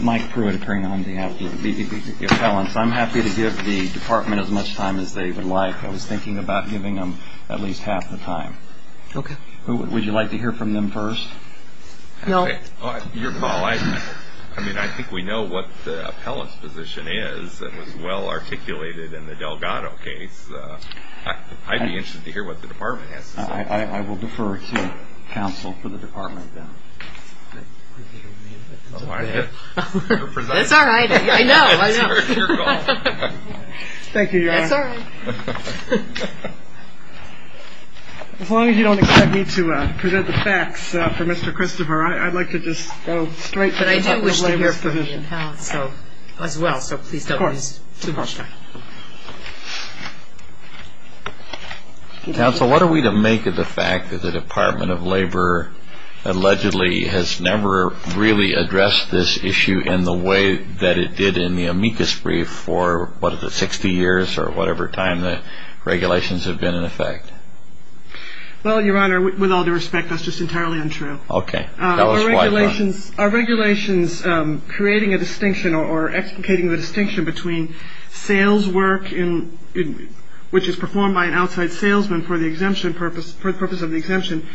Mike Pruitt appearing on behalf of the appellants. I'm happy to give the department as much time as they would like. I was thinking about giving them at least half the time. Would you like to hear from them first? Your call. I think we know what the appellant's position is. It was well articulated in the Delgado case. I'd be interested to hear what the department has to say. I will defer to counsel for the department. It's all right. I know. Thank you, Your Honor. As long as you don't expect me to present the facts for Mr. Christopher, I'd like to just go straight to the appellant's position. But I do wish to hear from the appellant as well, so please don't waste too much time. Counsel, what are we to make of the fact that the Department of Labor allegedly has never really addressed this issue in the way that it did in the amicus brief for, what is it, 60 years or whatever time the regulations have been in effect? Well, Your Honor, with all due respect, that's just entirely untrue. Our regulations creating a distinction or explicating the distinction between sales work, which is performed by an outside salesman for the purpose of the exemption,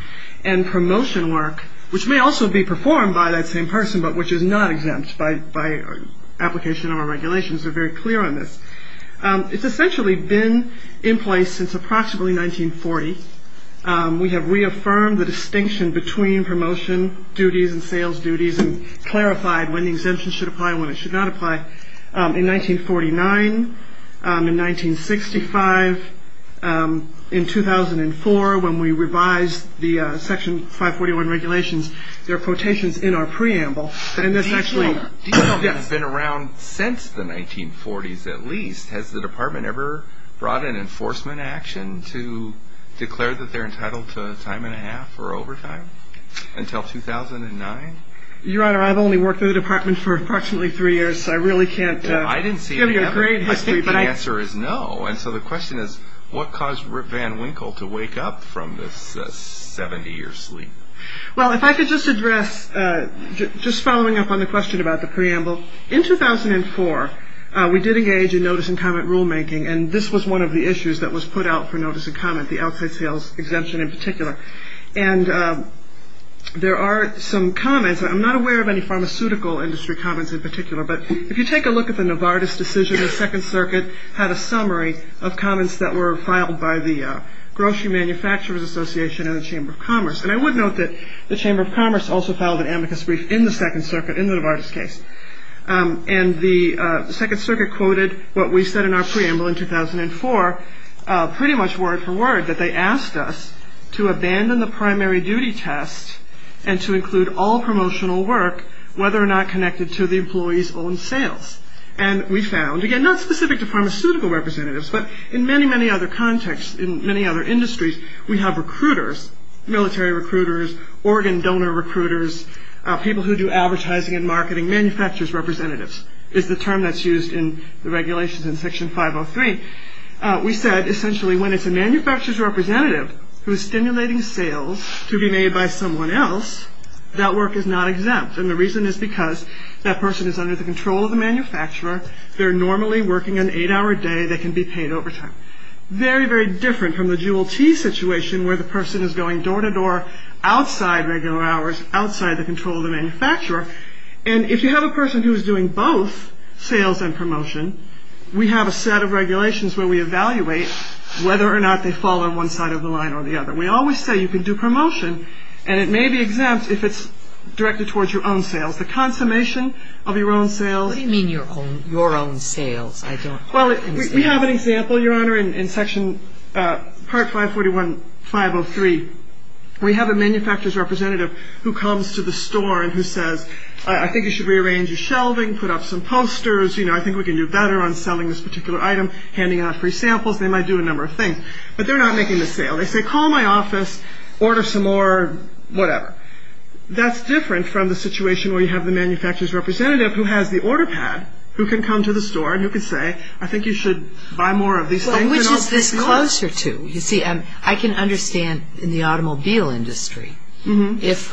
and promotion work, which may also be performed by that same person, but which is not exempt by application of our regulations. It's essentially been in place since approximately 1940. We have reaffirmed the distinction between promotion duties and sales duties and clarified when the exemption should apply and when it should not apply. In 1949, in 1965, in 2004, when we revised the Section 541 regulations, there are quotations in our preamble. Detail has been around since the 1940s at least. Has the department ever brought an enforcement action to declare that they're entitled to a time and a half or overtime until 2009? Your Honor, I've only worked for the department for approximately three years, so I really can't give you a great history. I think the answer is no. And so the question is, what caused Van Winkle to wake up from this 70-year sleep? Well, if I could just address, just following up on the question about the preamble, in 2004, we did engage in notice and comment rulemaking, and this was one of the issues that was put out for notice and comment, the outside sales exemption in particular. And there are some comments, and I'm not aware of any pharmaceutical industry comments in particular, but if you take a look at the Novartis decision, the Second Circuit had a summary of comments that were filed by the Grocery Manufacturers Association and the Chamber of Commerce. And I would note that the Chamber of Commerce also filed an amicus brief in the Second Circuit in the Novartis case. And the Second Circuit quoted what we said in our preamble in 2004, pretty much word for word, that they asked us to abandon the primary duty test and to include all promotional work, whether or not connected to the employee's own sales. And we found, again, not specific to pharmaceutical representatives, but in many, many other contexts, in many other industries, we have recruiters, military recruiters, organ donor recruiters, people who do advertising and marketing, manufacturers' representatives, is the term that's used in the regulations in Section 503. We said, essentially, when it's a manufacturers' representative who's stimulating sales to be made by someone else, that work is not exempt. And the reason is because that person is under the control of the manufacturer, they're normally working an eight-hour day, they can be paid overtime. Very, very different from the jewel tea situation where the person is going door to door, outside regular hours, outside the control of the manufacturer. And if you have a person who is doing both sales and promotion, we have a set of regulations where we evaluate whether or not they fall on one side of the line or the other. We always say you can do promotion, and it may be exempt if it's directed towards your own sales. The consummation of your own sales. What do you mean your own sales? Well, we have an example, Your Honor, in Section Part 541.503. We have a manufacturers' representative who comes to the store and who says, I think you should rearrange your shelving, put up some posters, you know, I think we can do better on selling this particular item, handing out free samples, they might do a number of things. But they're not making the sale. They say, call my office, order some more whatever. That's different from the situation where you have the manufacturers' representative who has the order pad, who can come to the store and who can say, I think you should buy more of these things. Which is this closer to? You see, I can understand in the automobile industry, if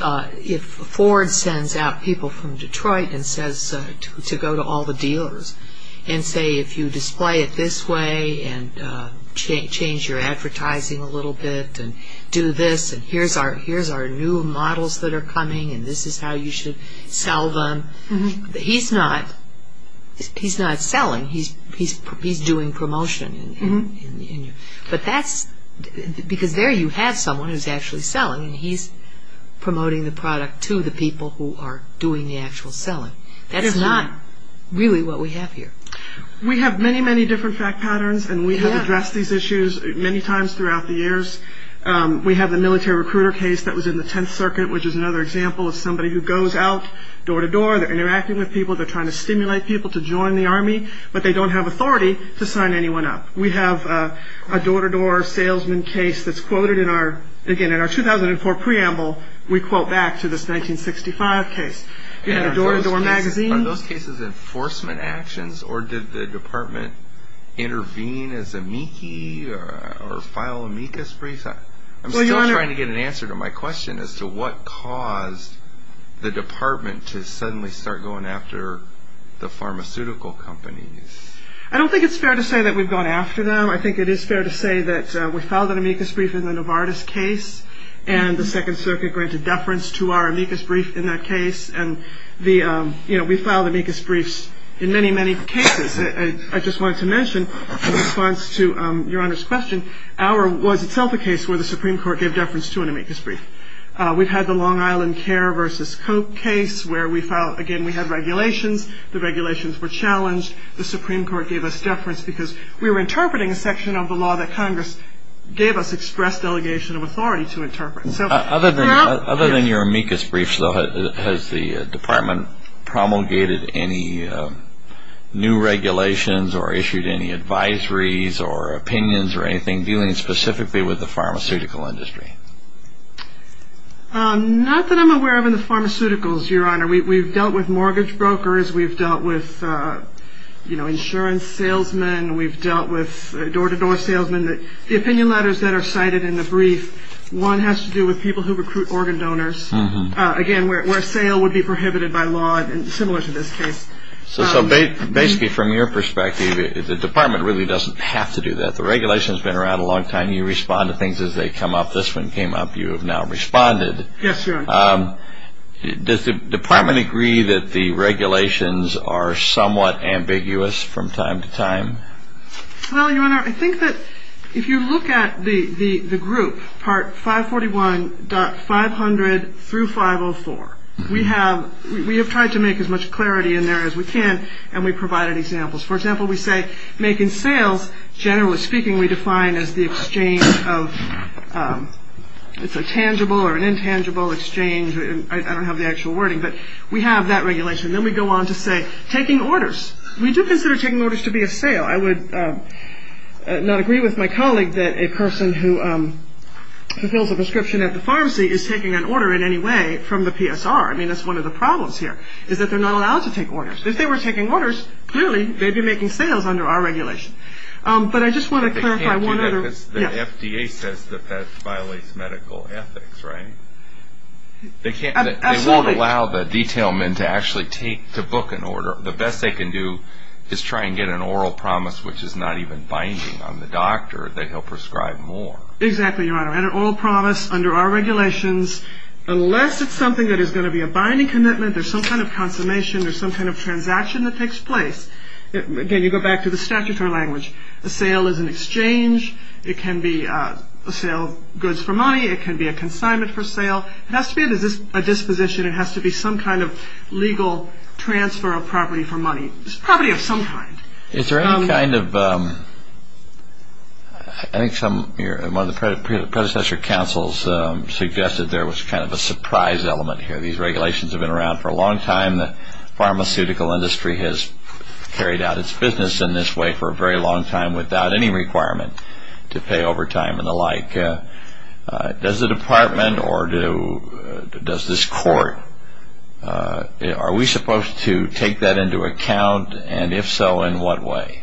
Ford sends out people from Detroit and says to go to all the dealers and say, if you display it this way and change your advertising a little bit and do this and here's our new models that are coming and this is how you should sell them. He's not selling. He's doing promotion. But that's because there you have someone who's actually selling and he's promoting the product to the people who are doing the actual selling. That's not really what we have here. We have many, many different fact patterns and we have addressed these issues many times throughout the years. We have the military recruiter case that was in the Tenth Circuit, which is another example of somebody who goes out door-to-door, they're interacting with people, they're trying to stimulate people to join the Army, but they don't have authority to sign anyone up. We have a door-to-door salesman case that's quoted in our 2004 preamble, we quote back to this 1965 case. Are those cases enforcement actions or did the department intervene as amici or file amicus briefs? I'm still trying to get an answer to my question as to what caused the department to suddenly start going after the pharmaceutical companies. I don't think it's fair to say that we've gone after them. I think it is fair to say that we filed an amicus brief in the Novartis case and the Second Circuit granted deference to our amicus brief in that case. We filed amicus briefs in many, many cases. I just wanted to mention in response to Your Honor's question, ours was itself a case where the Supreme Court gave deference to an amicus brief. We've had the Long Island Care v. Coke case where we filed, again, we had regulations. The regulations were challenged. The Supreme Court gave us deference because we were interpreting a section of the law that Congress gave us express delegation of authority to interpret. Other than your amicus briefs, though, has the department promulgated any new regulations or issued any advisories or opinions or anything dealing specifically with the pharmaceutical industry? Not that I'm aware of in the pharmaceuticals, Your Honor. We've dealt with mortgage brokers. We've dealt with insurance salesmen. We've dealt with door-to-door salesmen. The opinion letters that are cited in the brief, one has to do with people who recruit organ donors, again, where sale would be prohibited by law, similar to this case. So basically, from your perspective, the department really doesn't have to do that. The regulations have been around a long time. You respond to things as they come up. This one came up. You have now responded. Yes, Your Honor. Does the department agree that the regulations are somewhat ambiguous from time to time? Well, Your Honor, I think that if you look at the group, Part 541.500 through 504, we have tried to make as much clarity in there as we can, and we provided examples. For example, we say make in sales, generally speaking, we define as the exchange of a tangible or an intangible exchange. I don't have the actual wording, but we have that regulation. Then we go on to say taking orders. We do consider taking orders to be a sale. I would not agree with my colleague that a person who fulfills a prescription at the pharmacy is taking an order in any way from the PSR. I mean, that's one of the problems here is that they're not allowed to take orders. If they were taking orders, clearly they'd be making sales under our regulation. But I just want to clarify one other – But they can't do that because the FDA says that that violates medical ethics, right? They can't – Absolutely. They won't allow the detail men to actually take – to book an order. The best they can do is try and get an oral promise, which is not even binding on the doctor, that he'll prescribe more. Exactly, Your Honor. And an oral promise under our regulations, unless it's something that is going to be a binding commitment, there's some kind of consummation, there's some kind of transaction that takes place. Again, you go back to the statutory language. A sale is an exchange. It can be a sale of goods for money. It can be a consignment for sale. It has to be a disposition. It has to be some kind of legal transfer of property for money. It's property of some kind. Is there any kind of – I think one of the predecessor counsels suggested there was kind of a surprise element here. These regulations have been around for a long time. The pharmaceutical industry has carried out its business in this way for a very long time without any requirement to pay overtime and the like. Does the department or does this court – are we supposed to take that into account, and if so, in what way?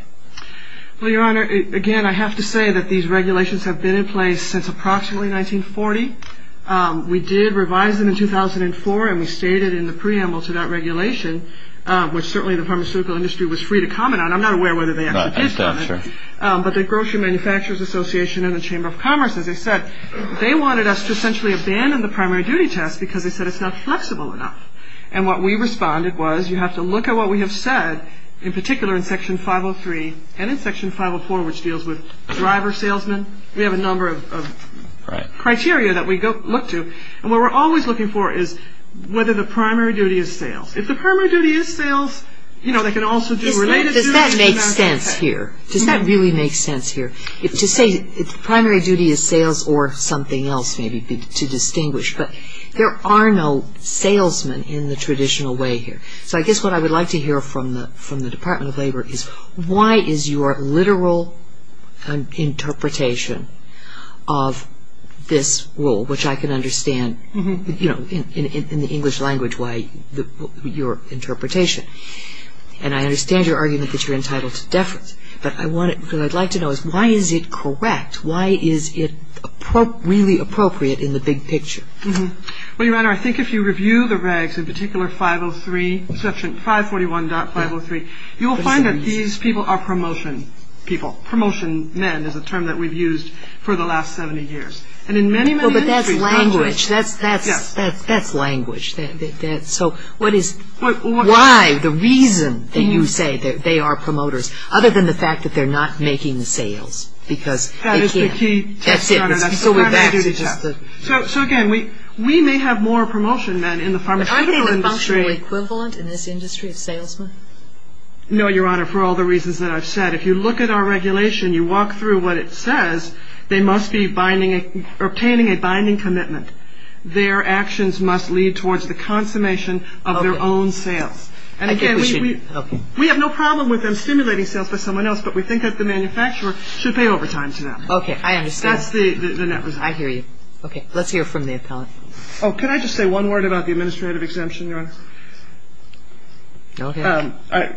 Well, Your Honor, again, I have to say that these regulations have been in place since approximately 1940. We did revise them in 2004, and we stated in the preamble to that regulation, which certainly the pharmaceutical industry was free to comment on. I'm not aware whether they actually did comment. But the Grocery Manufacturers Association and the Chamber of Commerce, as I said, they wanted us to essentially abandon the primary duty test because they said it's not flexible enough. And what we responded was you have to look at what we have said, in particular in Section 503 and in Section 504, which deals with driver salesmen. We have a number of criteria that we look to, and what we're always looking for is whether the primary duty is sales. If the primary duty is sales, you know, they can also do related duties. Does that make sense here? Does that really make sense here? To say the primary duty is sales or something else maybe to distinguish, but there are no salesmen in the traditional way here. So I guess what I would like to hear from the Department of Labor is why is your literal interpretation of this rule, which I can understand, you know, in the English language, your interpretation. And I understand your argument that you're entitled to deference, but what I'd like to know is why is it correct? Why is it really appropriate in the big picture? Well, Your Honor, I think if you review the regs, in particular 503, Section 541.503, you will find that these people are promotion people. Promotion men is a term that we've used for the last 70 years. And in many, many countries, probably. Well, but that's language. Yes. That's language. So what is why, the reason that you say that they are promoters, other than the fact that they're not making sales because they can't. That is the key. That's it. That's the primary duty. So, again, we may have more promotion men in the pharmaceutical industry. Are they the functional equivalent in this industry of salesmen? No, Your Honor, for all the reasons that I've said. If you look at our regulation, you walk through what it says, they must be obtaining a binding commitment. Their actions must lead towards the consummation of their own sales. And, again, we have no problem with them stimulating sales by someone else, but we think that the manufacturer should pay overtime to them. Okay. I understand. That's the net result. I hear you. Okay. Let's hear from the appellate. Oh, can I just say one word about the administrative exemption, Your Honor? Okay.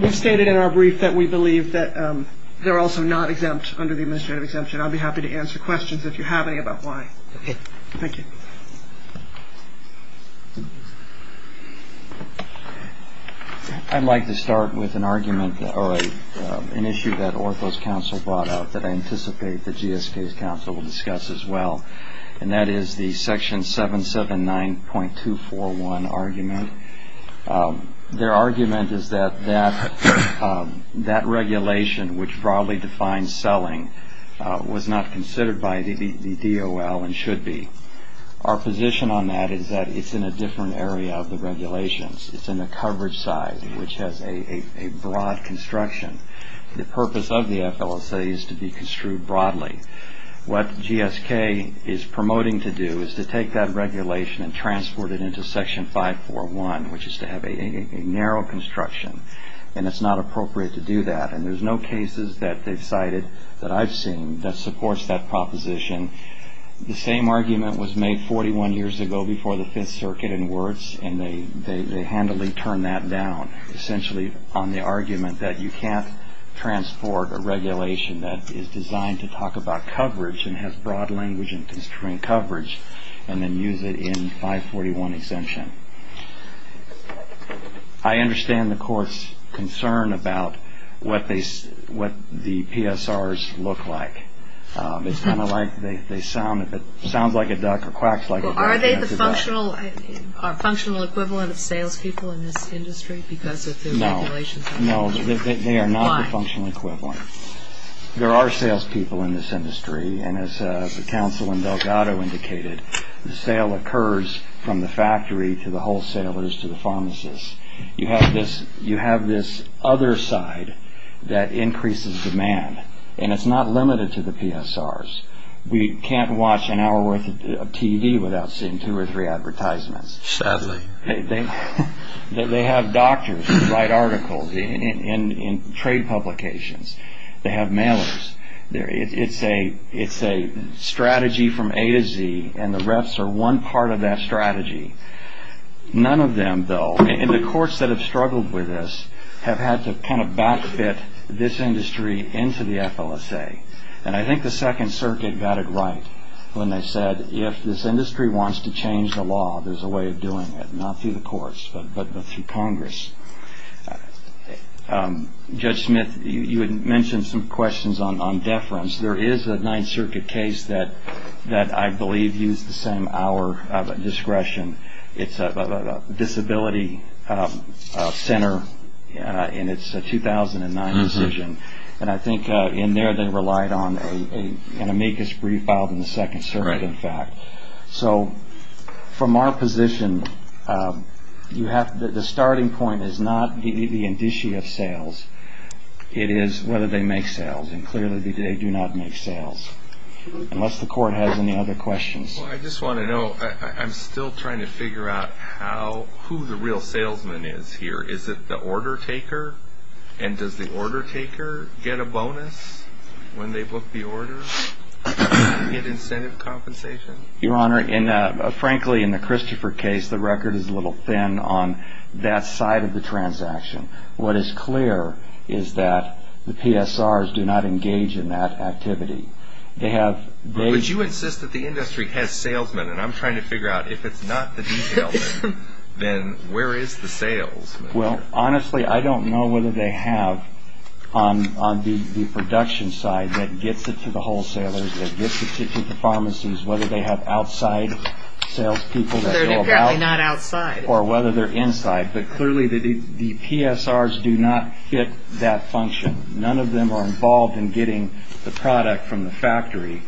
We've stated in our brief that we believe that they're also not exempt under the administrative exemption. I'll be happy to answer questions if you have any about why. Okay. Thank you. I'd like to start with an argument or an issue that Ortho's counsel brought up that I anticipate the GSK's counsel will discuss as well, and that is the Section 779.241 argument. Their argument is that that regulation, which broadly defines selling, was not considered by the DOL and should be. Our position on that is that it's in a different area of the regulations. It's in the coverage side, which has a broad construction. The purpose of the FLSA is to be construed broadly. What GSK is promoting to do is to take that regulation and transport it into Section 541, which is to have a narrow construction, and it's not appropriate to do that. And there's no cases that they've cited that I've seen that supports that proposition. The same argument was made 41 years ago before the Fifth Circuit in Wurtz, and they handily turned that down essentially on the argument that you can't transport a regulation that is designed to talk about coverage and has broad language and constrained coverage and then use it in 541 exemption. I understand the court's concern about what the PSRs look like. It's kind of like they sound like a duck or quacks like a duck. Are they the functional equivalent of salespeople in this industry because of the regulations? No, they are not the functional equivalent. There are salespeople in this industry, and as the counsel in Delgado indicated, the sale occurs from the factory to the wholesalers to the pharmacists. You have this other side that increases demand, and it's not limited to the PSRs. We can't watch an hour worth of TV without seeing two or three advertisements. Sadly. They have doctors who write articles in trade publications. They have mailers. It's a strategy from A to Z, and the reps are one part of that strategy. None of them, though, and the courts that have struggled with this, have had to kind of back-fit this industry into the FLSA, and I think the Second Circuit got it right when they said, if this industry wants to change the law, there's a way of doing it, not through the courts, but through Congress. Judge Smith, you had mentioned some questions on deference. There is a Ninth Circuit case that I believe used the same hour of discretion. It's a disability center, and it's a 2009 decision, and I think in there they relied on an amicus brief filed in the Second Circuit, in fact. So from our position, the starting point is not the indicia of sales. It is whether they make sales, and clearly they do not make sales, unless the court has any other questions. I just want to know, I'm still trying to figure out who the real salesman is here. Is it the order taker, and does the order taker get a bonus when they book the order? Do they get incentive compensation? Your Honor, frankly, in the Christopher case, the record is a little thin on that side of the transaction. What is clear is that the PSRs do not engage in that activity. But you insist that the industry has salesmen, and I'm trying to figure out if it's not the detail, then where is the salesman? Well, honestly, I don't know whether they have on the production side that gets it to the wholesalers, that gets it to the pharmacies, whether they have outside salespeople that go about it. They're apparently not outside. Or whether they're inside. But clearly the PSRs do not fit that function. None of them are involved in getting the product from the factory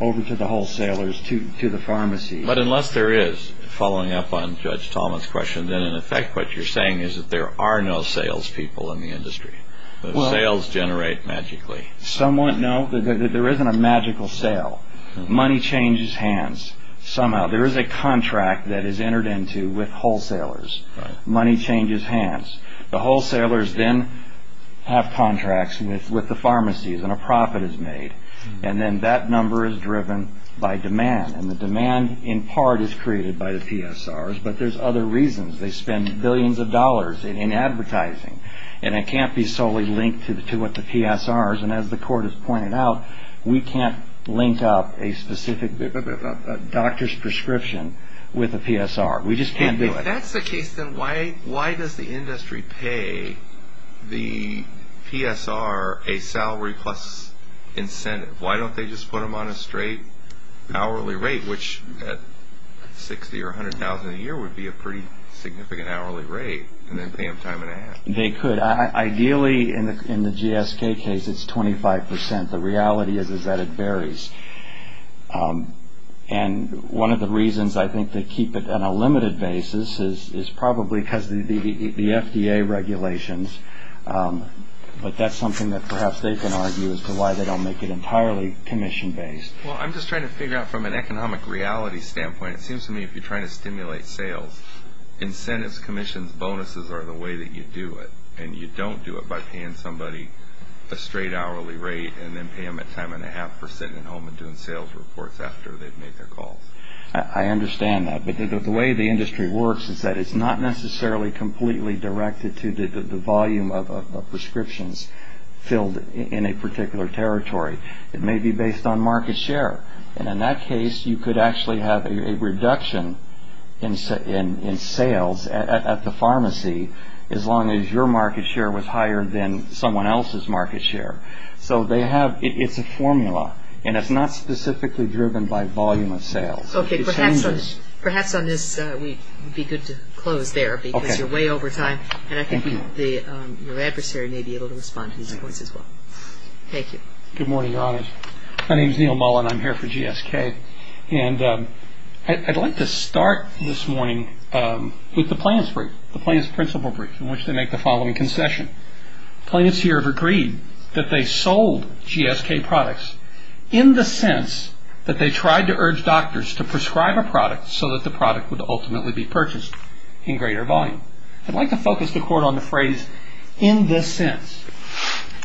over to the wholesalers, to the pharmacies. But unless there is, following up on Judge Thomas' question, then in effect what you're saying is that there are no salespeople in the industry. The sales generate magically. Somewhat, no. There isn't a magical sale. Money changes hands somehow. There is a contract that is entered into with wholesalers. Money changes hands. The wholesalers then have contracts with the pharmacies, and a profit is made. And then that number is driven by demand. And the demand, in part, is created by the PSRs. But there's other reasons. They spend billions of dollars in advertising. And it can't be solely linked to what the PSRs. And as the court has pointed out, we can't link up a specific doctor's prescription with a PSR. We just can't do it. If that's the case, then why does the industry pay the PSR a salary plus incentive? Why don't they just put them on a straight hourly rate, which at $60,000 or $100,000 a year would be a pretty significant hourly rate, and then pay them time and a half? They could. Ideally, in the GSK case, it's 25%. The reality is that it varies. And one of the reasons I think they keep it on a limited basis is probably because of the FDA regulations. But that's something that perhaps they can argue as to why they don't make it entirely commission-based. Well, I'm just trying to figure out from an economic reality standpoint, it seems to me if you're trying to stimulate sales, incentives, commissions, bonuses are the way that you do it. And you don't do it by paying somebody a straight hourly rate and then pay them a time and a half for sitting at home and doing sales reports after they've made their calls. I understand that. But the way the industry works is that it's not necessarily completely directed to the volume of prescriptions filled in a particular territory. It may be based on market share. And in that case, you could actually have a reduction in sales at the pharmacy as long as your market share was higher than someone else's market share. So it's a formula. And it's not specifically driven by volume of sales. Okay. Perhaps on this we'd be good to close there because you're way over time. And I think your adversary may be able to respond to these points as well. Thank you. Good morning, Your Honors. My name is Neil Mullen. I'm here for GSK. And I'd like to start this morning with the plaintiff's brief, the plaintiff's principle brief, in which they make the following concession. Plaintiffs here have agreed that they sold GSK products in the sense that they tried to urge doctors to prescribe a product so that the product would ultimately be purchased in greater volume. I'd like to focus the court on the phrase, in this sense.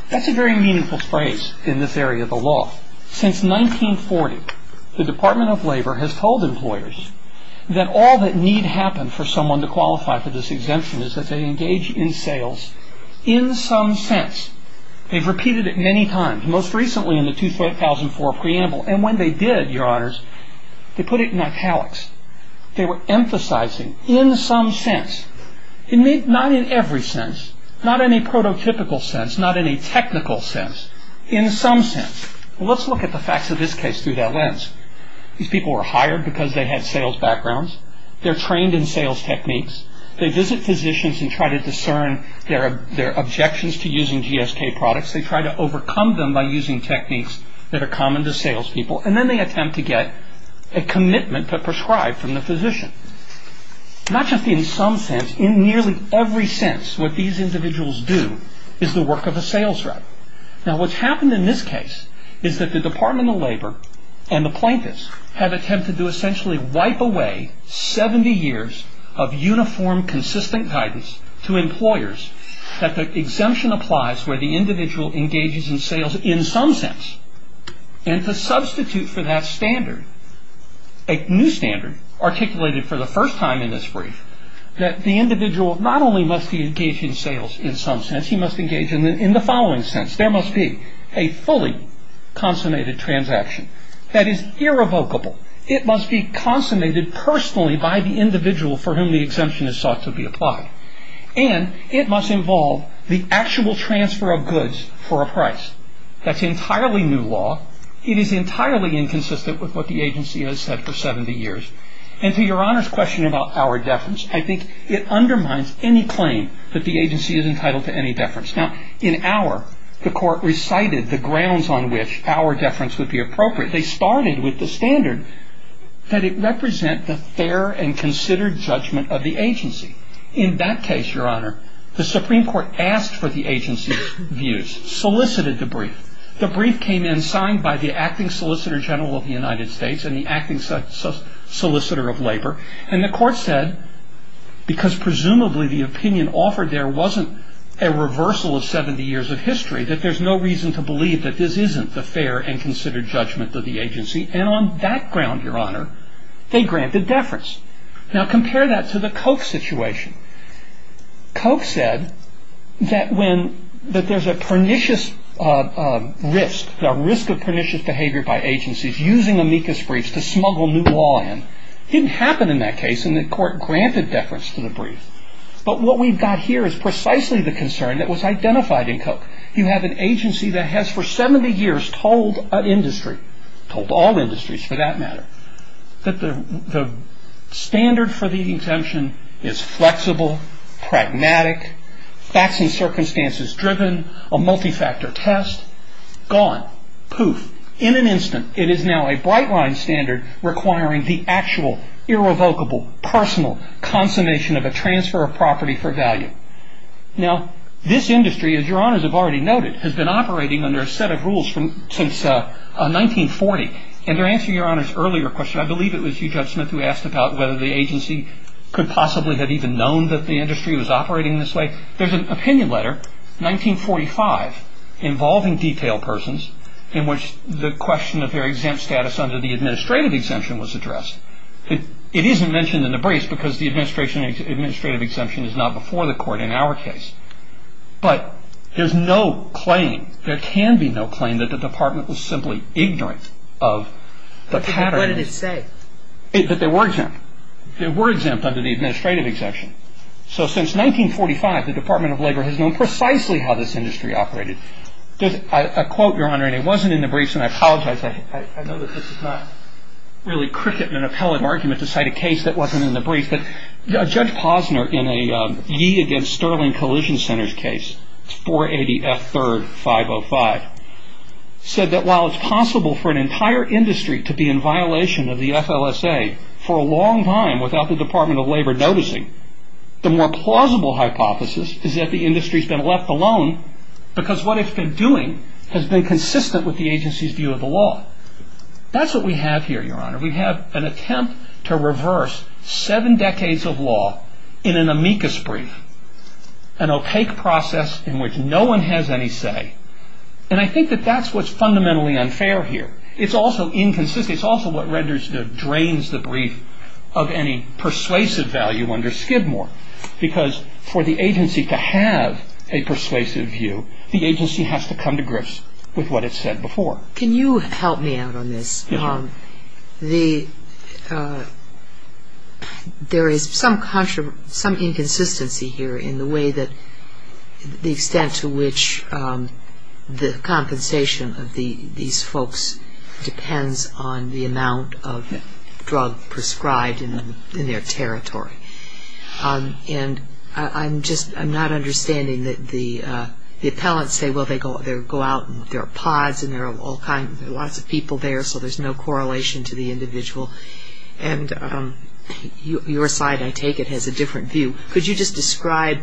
That's a very meaningful phrase in this area of the law. Since 1940, the Department of Labor has told employers that all that need happen for someone to qualify for this exemption is that they engage in sales in some sense. They've repeated it many times, most recently in the 2004 preamble. And when they did, Your Honors, they put it in italics. They were emphasizing in some sense. Not in every sense. Not in a prototypical sense. Not in a technical sense. In some sense. Let's look at the facts of this case through that lens. These people were hired because they had sales backgrounds. They're trained in sales techniques. They visit physicians and try to discern their objections to using GSK products. They try to overcome them by using techniques that are common to salespeople. And then they attempt to get a commitment to prescribe from the physician. Not just in some sense. In nearly every sense, what these individuals do is the work of a sales rep. Now, what's happened in this case is that the Department of Labor and the plaintiffs have attempted to essentially wipe away 70 years of uniform, consistent guidance to employers that the exemption applies where the individual engages in sales in some sense. And to substitute for that standard, a new standard articulated for the first time in this brief, that the individual not only must be engaged in sales in some sense, he must engage in the following sense. There must be a fully consummated transaction. That is irrevocable. It must be consummated personally by the individual for whom the exemption is sought to be applied. And it must involve the actual transfer of goods for a price. That's entirely new law. It is entirely inconsistent with what the agency has said for 70 years. And to Your Honor's question about our deference, I think it undermines any claim that the agency is entitled to any deference. Now, in our, the court recited the grounds on which our deference would be appropriate. They started with the standard that it represent the fair and considered judgment of the agency. In that case, Your Honor, the Supreme Court asked for the agency's views, solicited the brief. The brief came in signed by the acting Solicitor General of the United States and the acting Solicitor of Labor. And the court said, because presumably the opinion offered there wasn't a reversal of 70 years of history, that there's no reason to believe that this isn't the fair and considered judgment of the agency. And on that ground, Your Honor, they grant the deference. Now, compare that to the Koch situation. Koch said that when, that there's a pernicious risk, the risk of pernicious behavior by agencies using amicus briefs to smuggle new law in didn't happen in that case and the court granted deference to the brief. But what we've got here is precisely the concern that was identified in Koch. You have an agency that has for 70 years told an industry, told all industries for that matter, that the standard for the exemption is flexible, pragmatic, facts and circumstances driven, a multi-factor test, gone, poof, in an instant. It is now a bright line standard requiring the actual, irrevocable, personal consummation of a transfer of property for value. Now, this industry, as Your Honors have already noted, has been operating under a set of rules since 1940. And to answer Your Honor's earlier question, I believe it was you, Judge Smith, who asked about whether the agency could possibly have even known that the industry was operating this way, there's an opinion letter, 1945, involving detailed persons in which the question of their exempt status under the administrative exemption was addressed. It isn't mentioned in the briefs because the administrative exemption is not before the court in our case. But there's no claim, there can be no claim, that the department was simply ignorant of the pattern. What did it say? That they were exempt. They were exempt under the administrative exemption. So since 1945, the Department of Labor has known precisely how this industry operated. A quote, Your Honor, and it wasn't in the briefs, and I apologize, I know that this is not really cricket and an appellate argument to cite a case that wasn't in the briefs, but Judge Posner, in a Yee against Sterling Collision Centers case, 480F3-505, said that while it's possible for an entire industry to be in violation of the FLSA for a long time without the Department of Labor noticing, the more plausible hypothesis is that the industry's been left alone because what it's been doing has been consistent with the agency's view of the law. That's what we have here, Your Honor. We have an attempt to reverse seven decades of law in an amicus brief, an opaque process in which no one has any say. And I think that that's what's fundamentally unfair here. It's also inconsistent. It's also what drains the brief of any persuasive value under Skidmore because for the agency to have a persuasive view, the agency has to come to grips with what it said before. Yes, Your Honor. There is some inconsistency here in the way that the extent to which the compensation of these folks depends on the amount of drug prescribed in their territory. And I'm just not understanding that the appellants say, well, they go out and there are pods and there are lots of people there so there's no correlation to the individual. And your side, I take it, has a different view. Could you just describe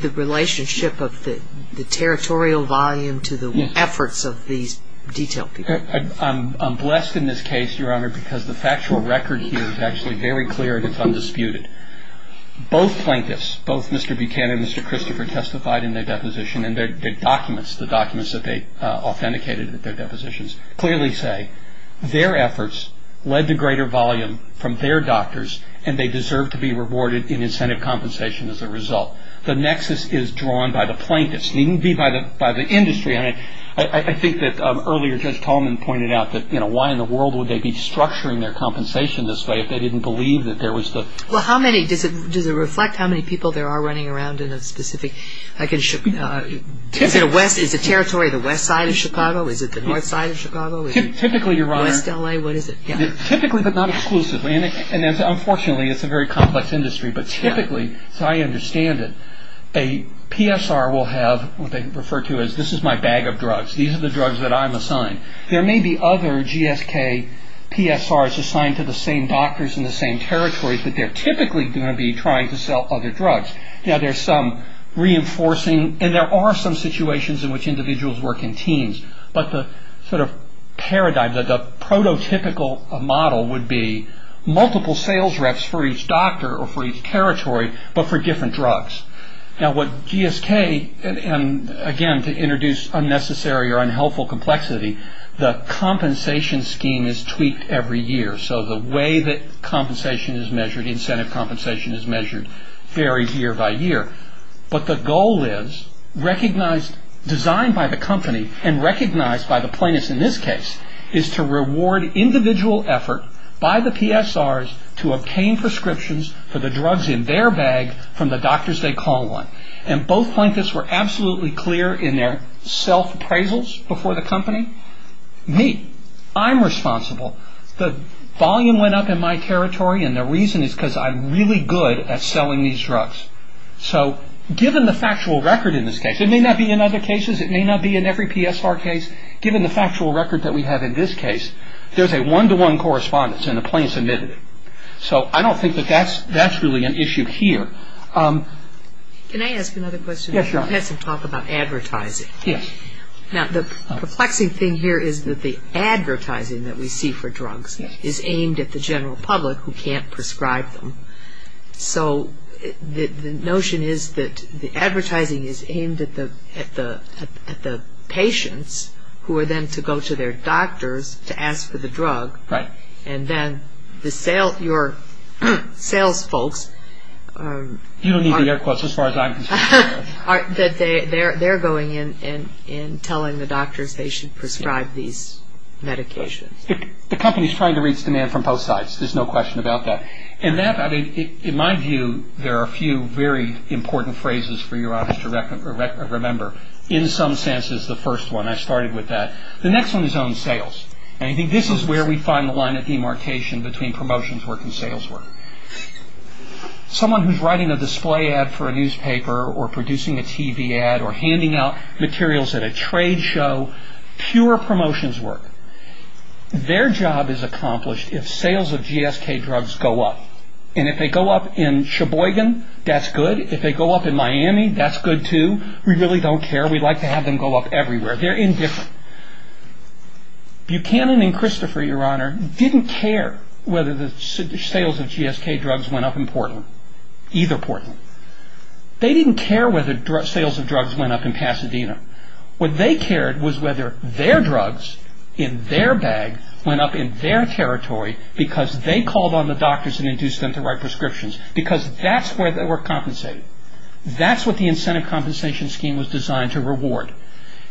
the relationship of the territorial volume to the efforts of these detailed people? I'm blessed in this case, Your Honor, because the factual record here is actually very clear and it's undisputed. Both plaintiffs, both Mr. Buchanan and Mr. Christopher testified in their deposition, and their documents, the documents that they authenticated at their depositions, clearly say their efforts led to greater volume from their doctors and they deserve to be rewarded in incentive compensation as a result. The nexus is drawn by the plaintiffs. It needn't be by the industry. I think that earlier Judge Tolman pointed out that, you know, why in the world would they be structuring their compensation this way if they didn't believe that there was the... Well, how many, does it reflect how many people there are running around in a specific... Is the territory the west side of Chicago? Is it the north side of Chicago? Typically, Your Honor... West L.A., what is it? Typically but not exclusively, and unfortunately it's a very complex industry, but typically, as I understand it, a PSR will have what they refer to as, this is my bag of drugs, these are the drugs that I'm assigned. There may be other GSK PSRs assigned to the same doctors in the same territories, but they're typically going to be trying to sell other drugs. Now, there's some reinforcing, and there are some situations in which individuals work in teams, but the sort of paradigm, the prototypical model would be multiple sales reps for each doctor or for each territory but for different drugs. Now, what GSK, and again, to introduce unnecessary or unhelpful complexity, the compensation scheme is tweaked every year, so the way that compensation is measured, incentive compensation is measured, varies year by year. But the goal is, recognized, designed by the company and recognized by the plaintiffs in this case, is to reward individual effort by the PSRs to obtain prescriptions for the drugs in their bag from the doctors they call on. And both plaintiffs were absolutely clear in their self-appraisals before the company. Me, I'm responsible. The volume went up in my territory, and the reason is because I'm really good at selling these drugs. So given the factual record in this case, it may not be in other cases, it may not be in every PSR case, given the factual record that we have in this case, there's a one-to-one correspondence, and the plaintiffs admit it. So I don't think that that's really an issue here. Can I ask another question? Yeah, sure. You had some talk about advertising. Yes. Now, the perplexing thing here is that the advertising that we see for drugs is aimed at the general public who can't prescribe them. So the notion is that the advertising is aimed at the patients who are then to go to their doctors to ask for the drug. Right. And then the sales folks are going in and telling the doctors they should prescribe these medications. The company is trying to reach demand from both sides. There's no question about that. In my view, there are a few very important phrases for your audience to remember. In some senses, the first one, I started with that. The next one is on sales. And I think this is where we find the line of demarcation between promotions work and sales work. Someone who's writing a display ad for a newspaper or producing a TV ad or handing out materials at a trade show, pure promotions work. Their job is accomplished if sales of GSK drugs go up. And if they go up in Sheboygan, that's good. If they go up in Miami, that's good too. We really don't care. We'd like to have them go up everywhere. They're indifferent. Buchanan and Christopher, Your Honor, didn't care whether the sales of GSK drugs went up in Portland, either Portland. They didn't care whether sales of drugs went up in Pasadena. What they cared was whether their drugs in their bag went up in their territory because they called on the doctors and induced them to write prescriptions because that's where they were compensated. That's what the incentive compensation scheme was designed to reward.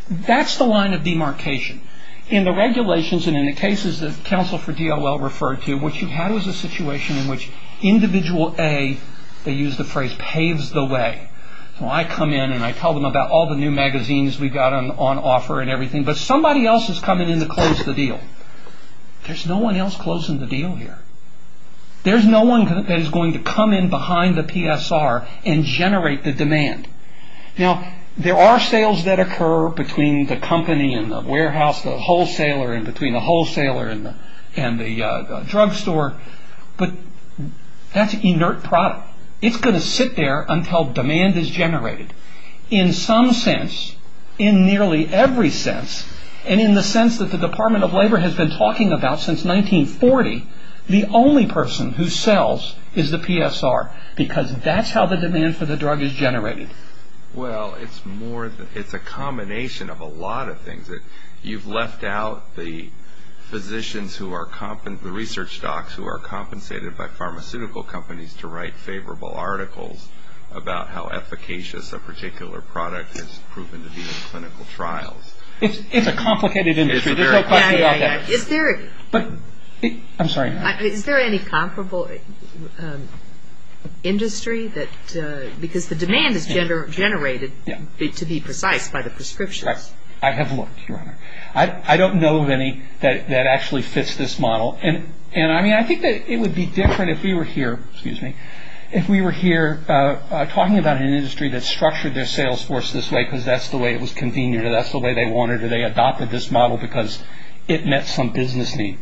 That's the line of demarcation. In the regulations and in the cases that counsel for DOL referred to, what you had was a situation in which individual A, they used the phrase, paves the way. I come in and I tell them about all the new magazines we've got on offer and everything, but somebody else is coming in to close the deal. There's no one else closing the deal here. There's no one that is going to come in behind the PSR and generate the demand. Now, there are sales that occur between the company and the warehouse, the wholesaler and between the wholesaler and the drugstore, but that's inert product. It's going to sit there until demand is generated. In some sense, in nearly every sense, and in the sense that the Department of Labor has been talking about since 1940, the only person who sells is the PSR because that's how the demand for the drug is generated. Well, it's a combination of a lot of things. You've left out the physicians, the research docs, who are compensated by pharmaceutical companies to write favorable articles about how efficacious a particular product has proven to be in clinical trials. It's a complicated industry. There's no question about that. I'm sorry. Is there any comparable industry? Because the demand is generated, to be precise, by the prescriptions. I have looked, Your Honor. I don't know of any that actually fits this model. I think that it would be different if we were here talking about an industry that structured their sales force this way because that's the way it was convened or that's the way they wanted or they adopted this model because it met some business need.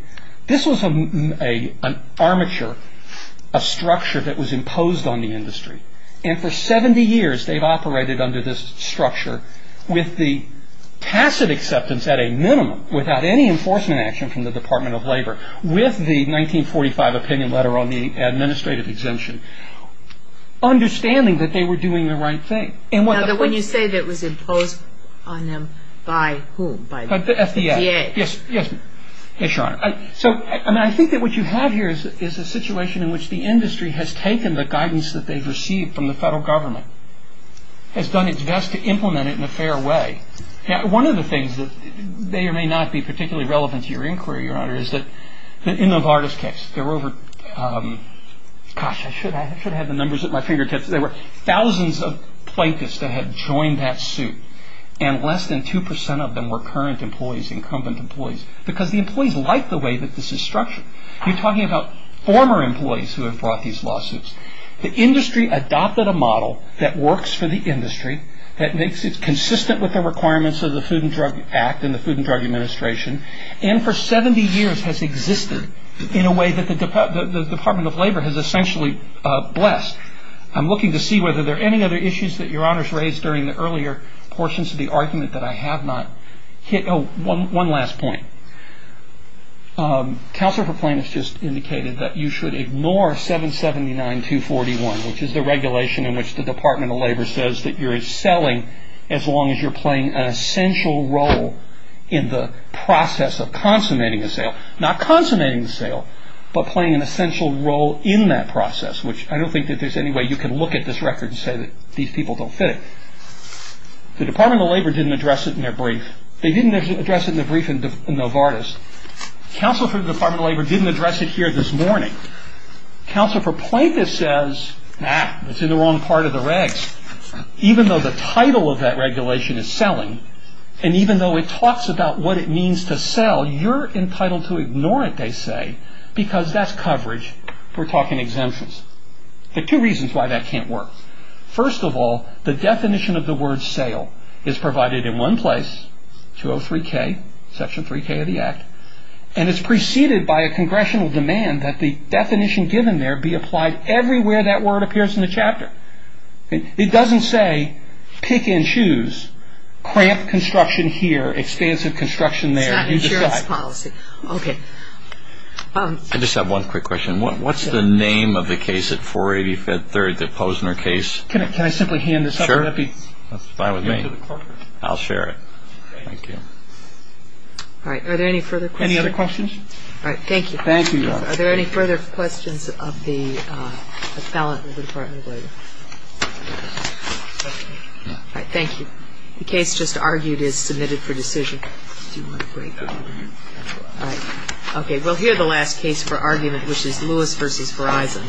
This was an armature, a structure that was imposed on the industry. And for 70 years, they've operated under this structure with the passive acceptance at a minimum, without any enforcement action from the Department of Labor, with the 1945 opinion letter on the administrative exemption, understanding that they were doing the right thing. Now, when you say that it was imposed on them, by whom? By the FDA. Yes. Yes, Your Honor. So I think that what you have here is a situation in which the industry has taken the guidance that they've received from the federal government, has done its best to implement it in a fair way. One of the things that may or may not be particularly relevant to your inquiry, Your Honor, is that in the Vargas case, there were over, gosh, I should have had the numbers at my fingertips. There were thousands of plaintiffs that had joined that suit, and less than 2% of them were current employees, incumbent employees, because the employees like the way that this is structured. You're talking about former employees who have brought these lawsuits. The industry adopted a model that works for the industry, that makes it consistent with the requirements of the Food and Drug Act and the Food and Drug Administration, and for 70 years has existed in a way that the Department of Labor has essentially blessed. I'm looking to see whether there are any other issues that Your Honor has raised during the earlier portions of the argument that I have not hit. Oh, one last point. Counselor for Plaintiffs just indicated that you should ignore 779-241, which is the regulation in which the Department of Labor says that you're selling as long as you're playing an essential role in the process of consummating a sale. Not consummating the sale, but playing an essential role in that process, which I don't think that there's any way you can look at this record and say that these people don't fit it. The Department of Labor didn't address it in their brief. They didn't address it in the brief in Novartis. Counsel for the Department of Labor didn't address it here this morning. Counsel for Plaintiffs says, ah, it's in the wrong part of the regs. Even though the title of that regulation is selling, and even though it talks about what it means to sell, you're entitled to ignore it, they say, because that's coverage. We're talking exemptions. There are two reasons why that can't work. First of all, the definition of the word sale is provided in one place, 203K, Section 3K of the Act, and it's preceded by a congressional demand that the definition given there be applied everywhere that word appears in the chapter. It doesn't say pick and choose, cramp construction here, expansive construction there. It's not insurance policy. Okay. I just have one quick question. What's the name of the case at 485 Third, the Posner case? Can I simply hand this up? Sure. That's fine with me. I'll share it. Thank you. All right. Are there any further questions? Any other questions? All right. Thank you. Thank you. Are there any further questions of the appellant of the Department of Labor? All right. Thank you. The case just argued is submitted for decision. All right. Okay. We'll hear the last case for argument, which is Lewis v. Verizon.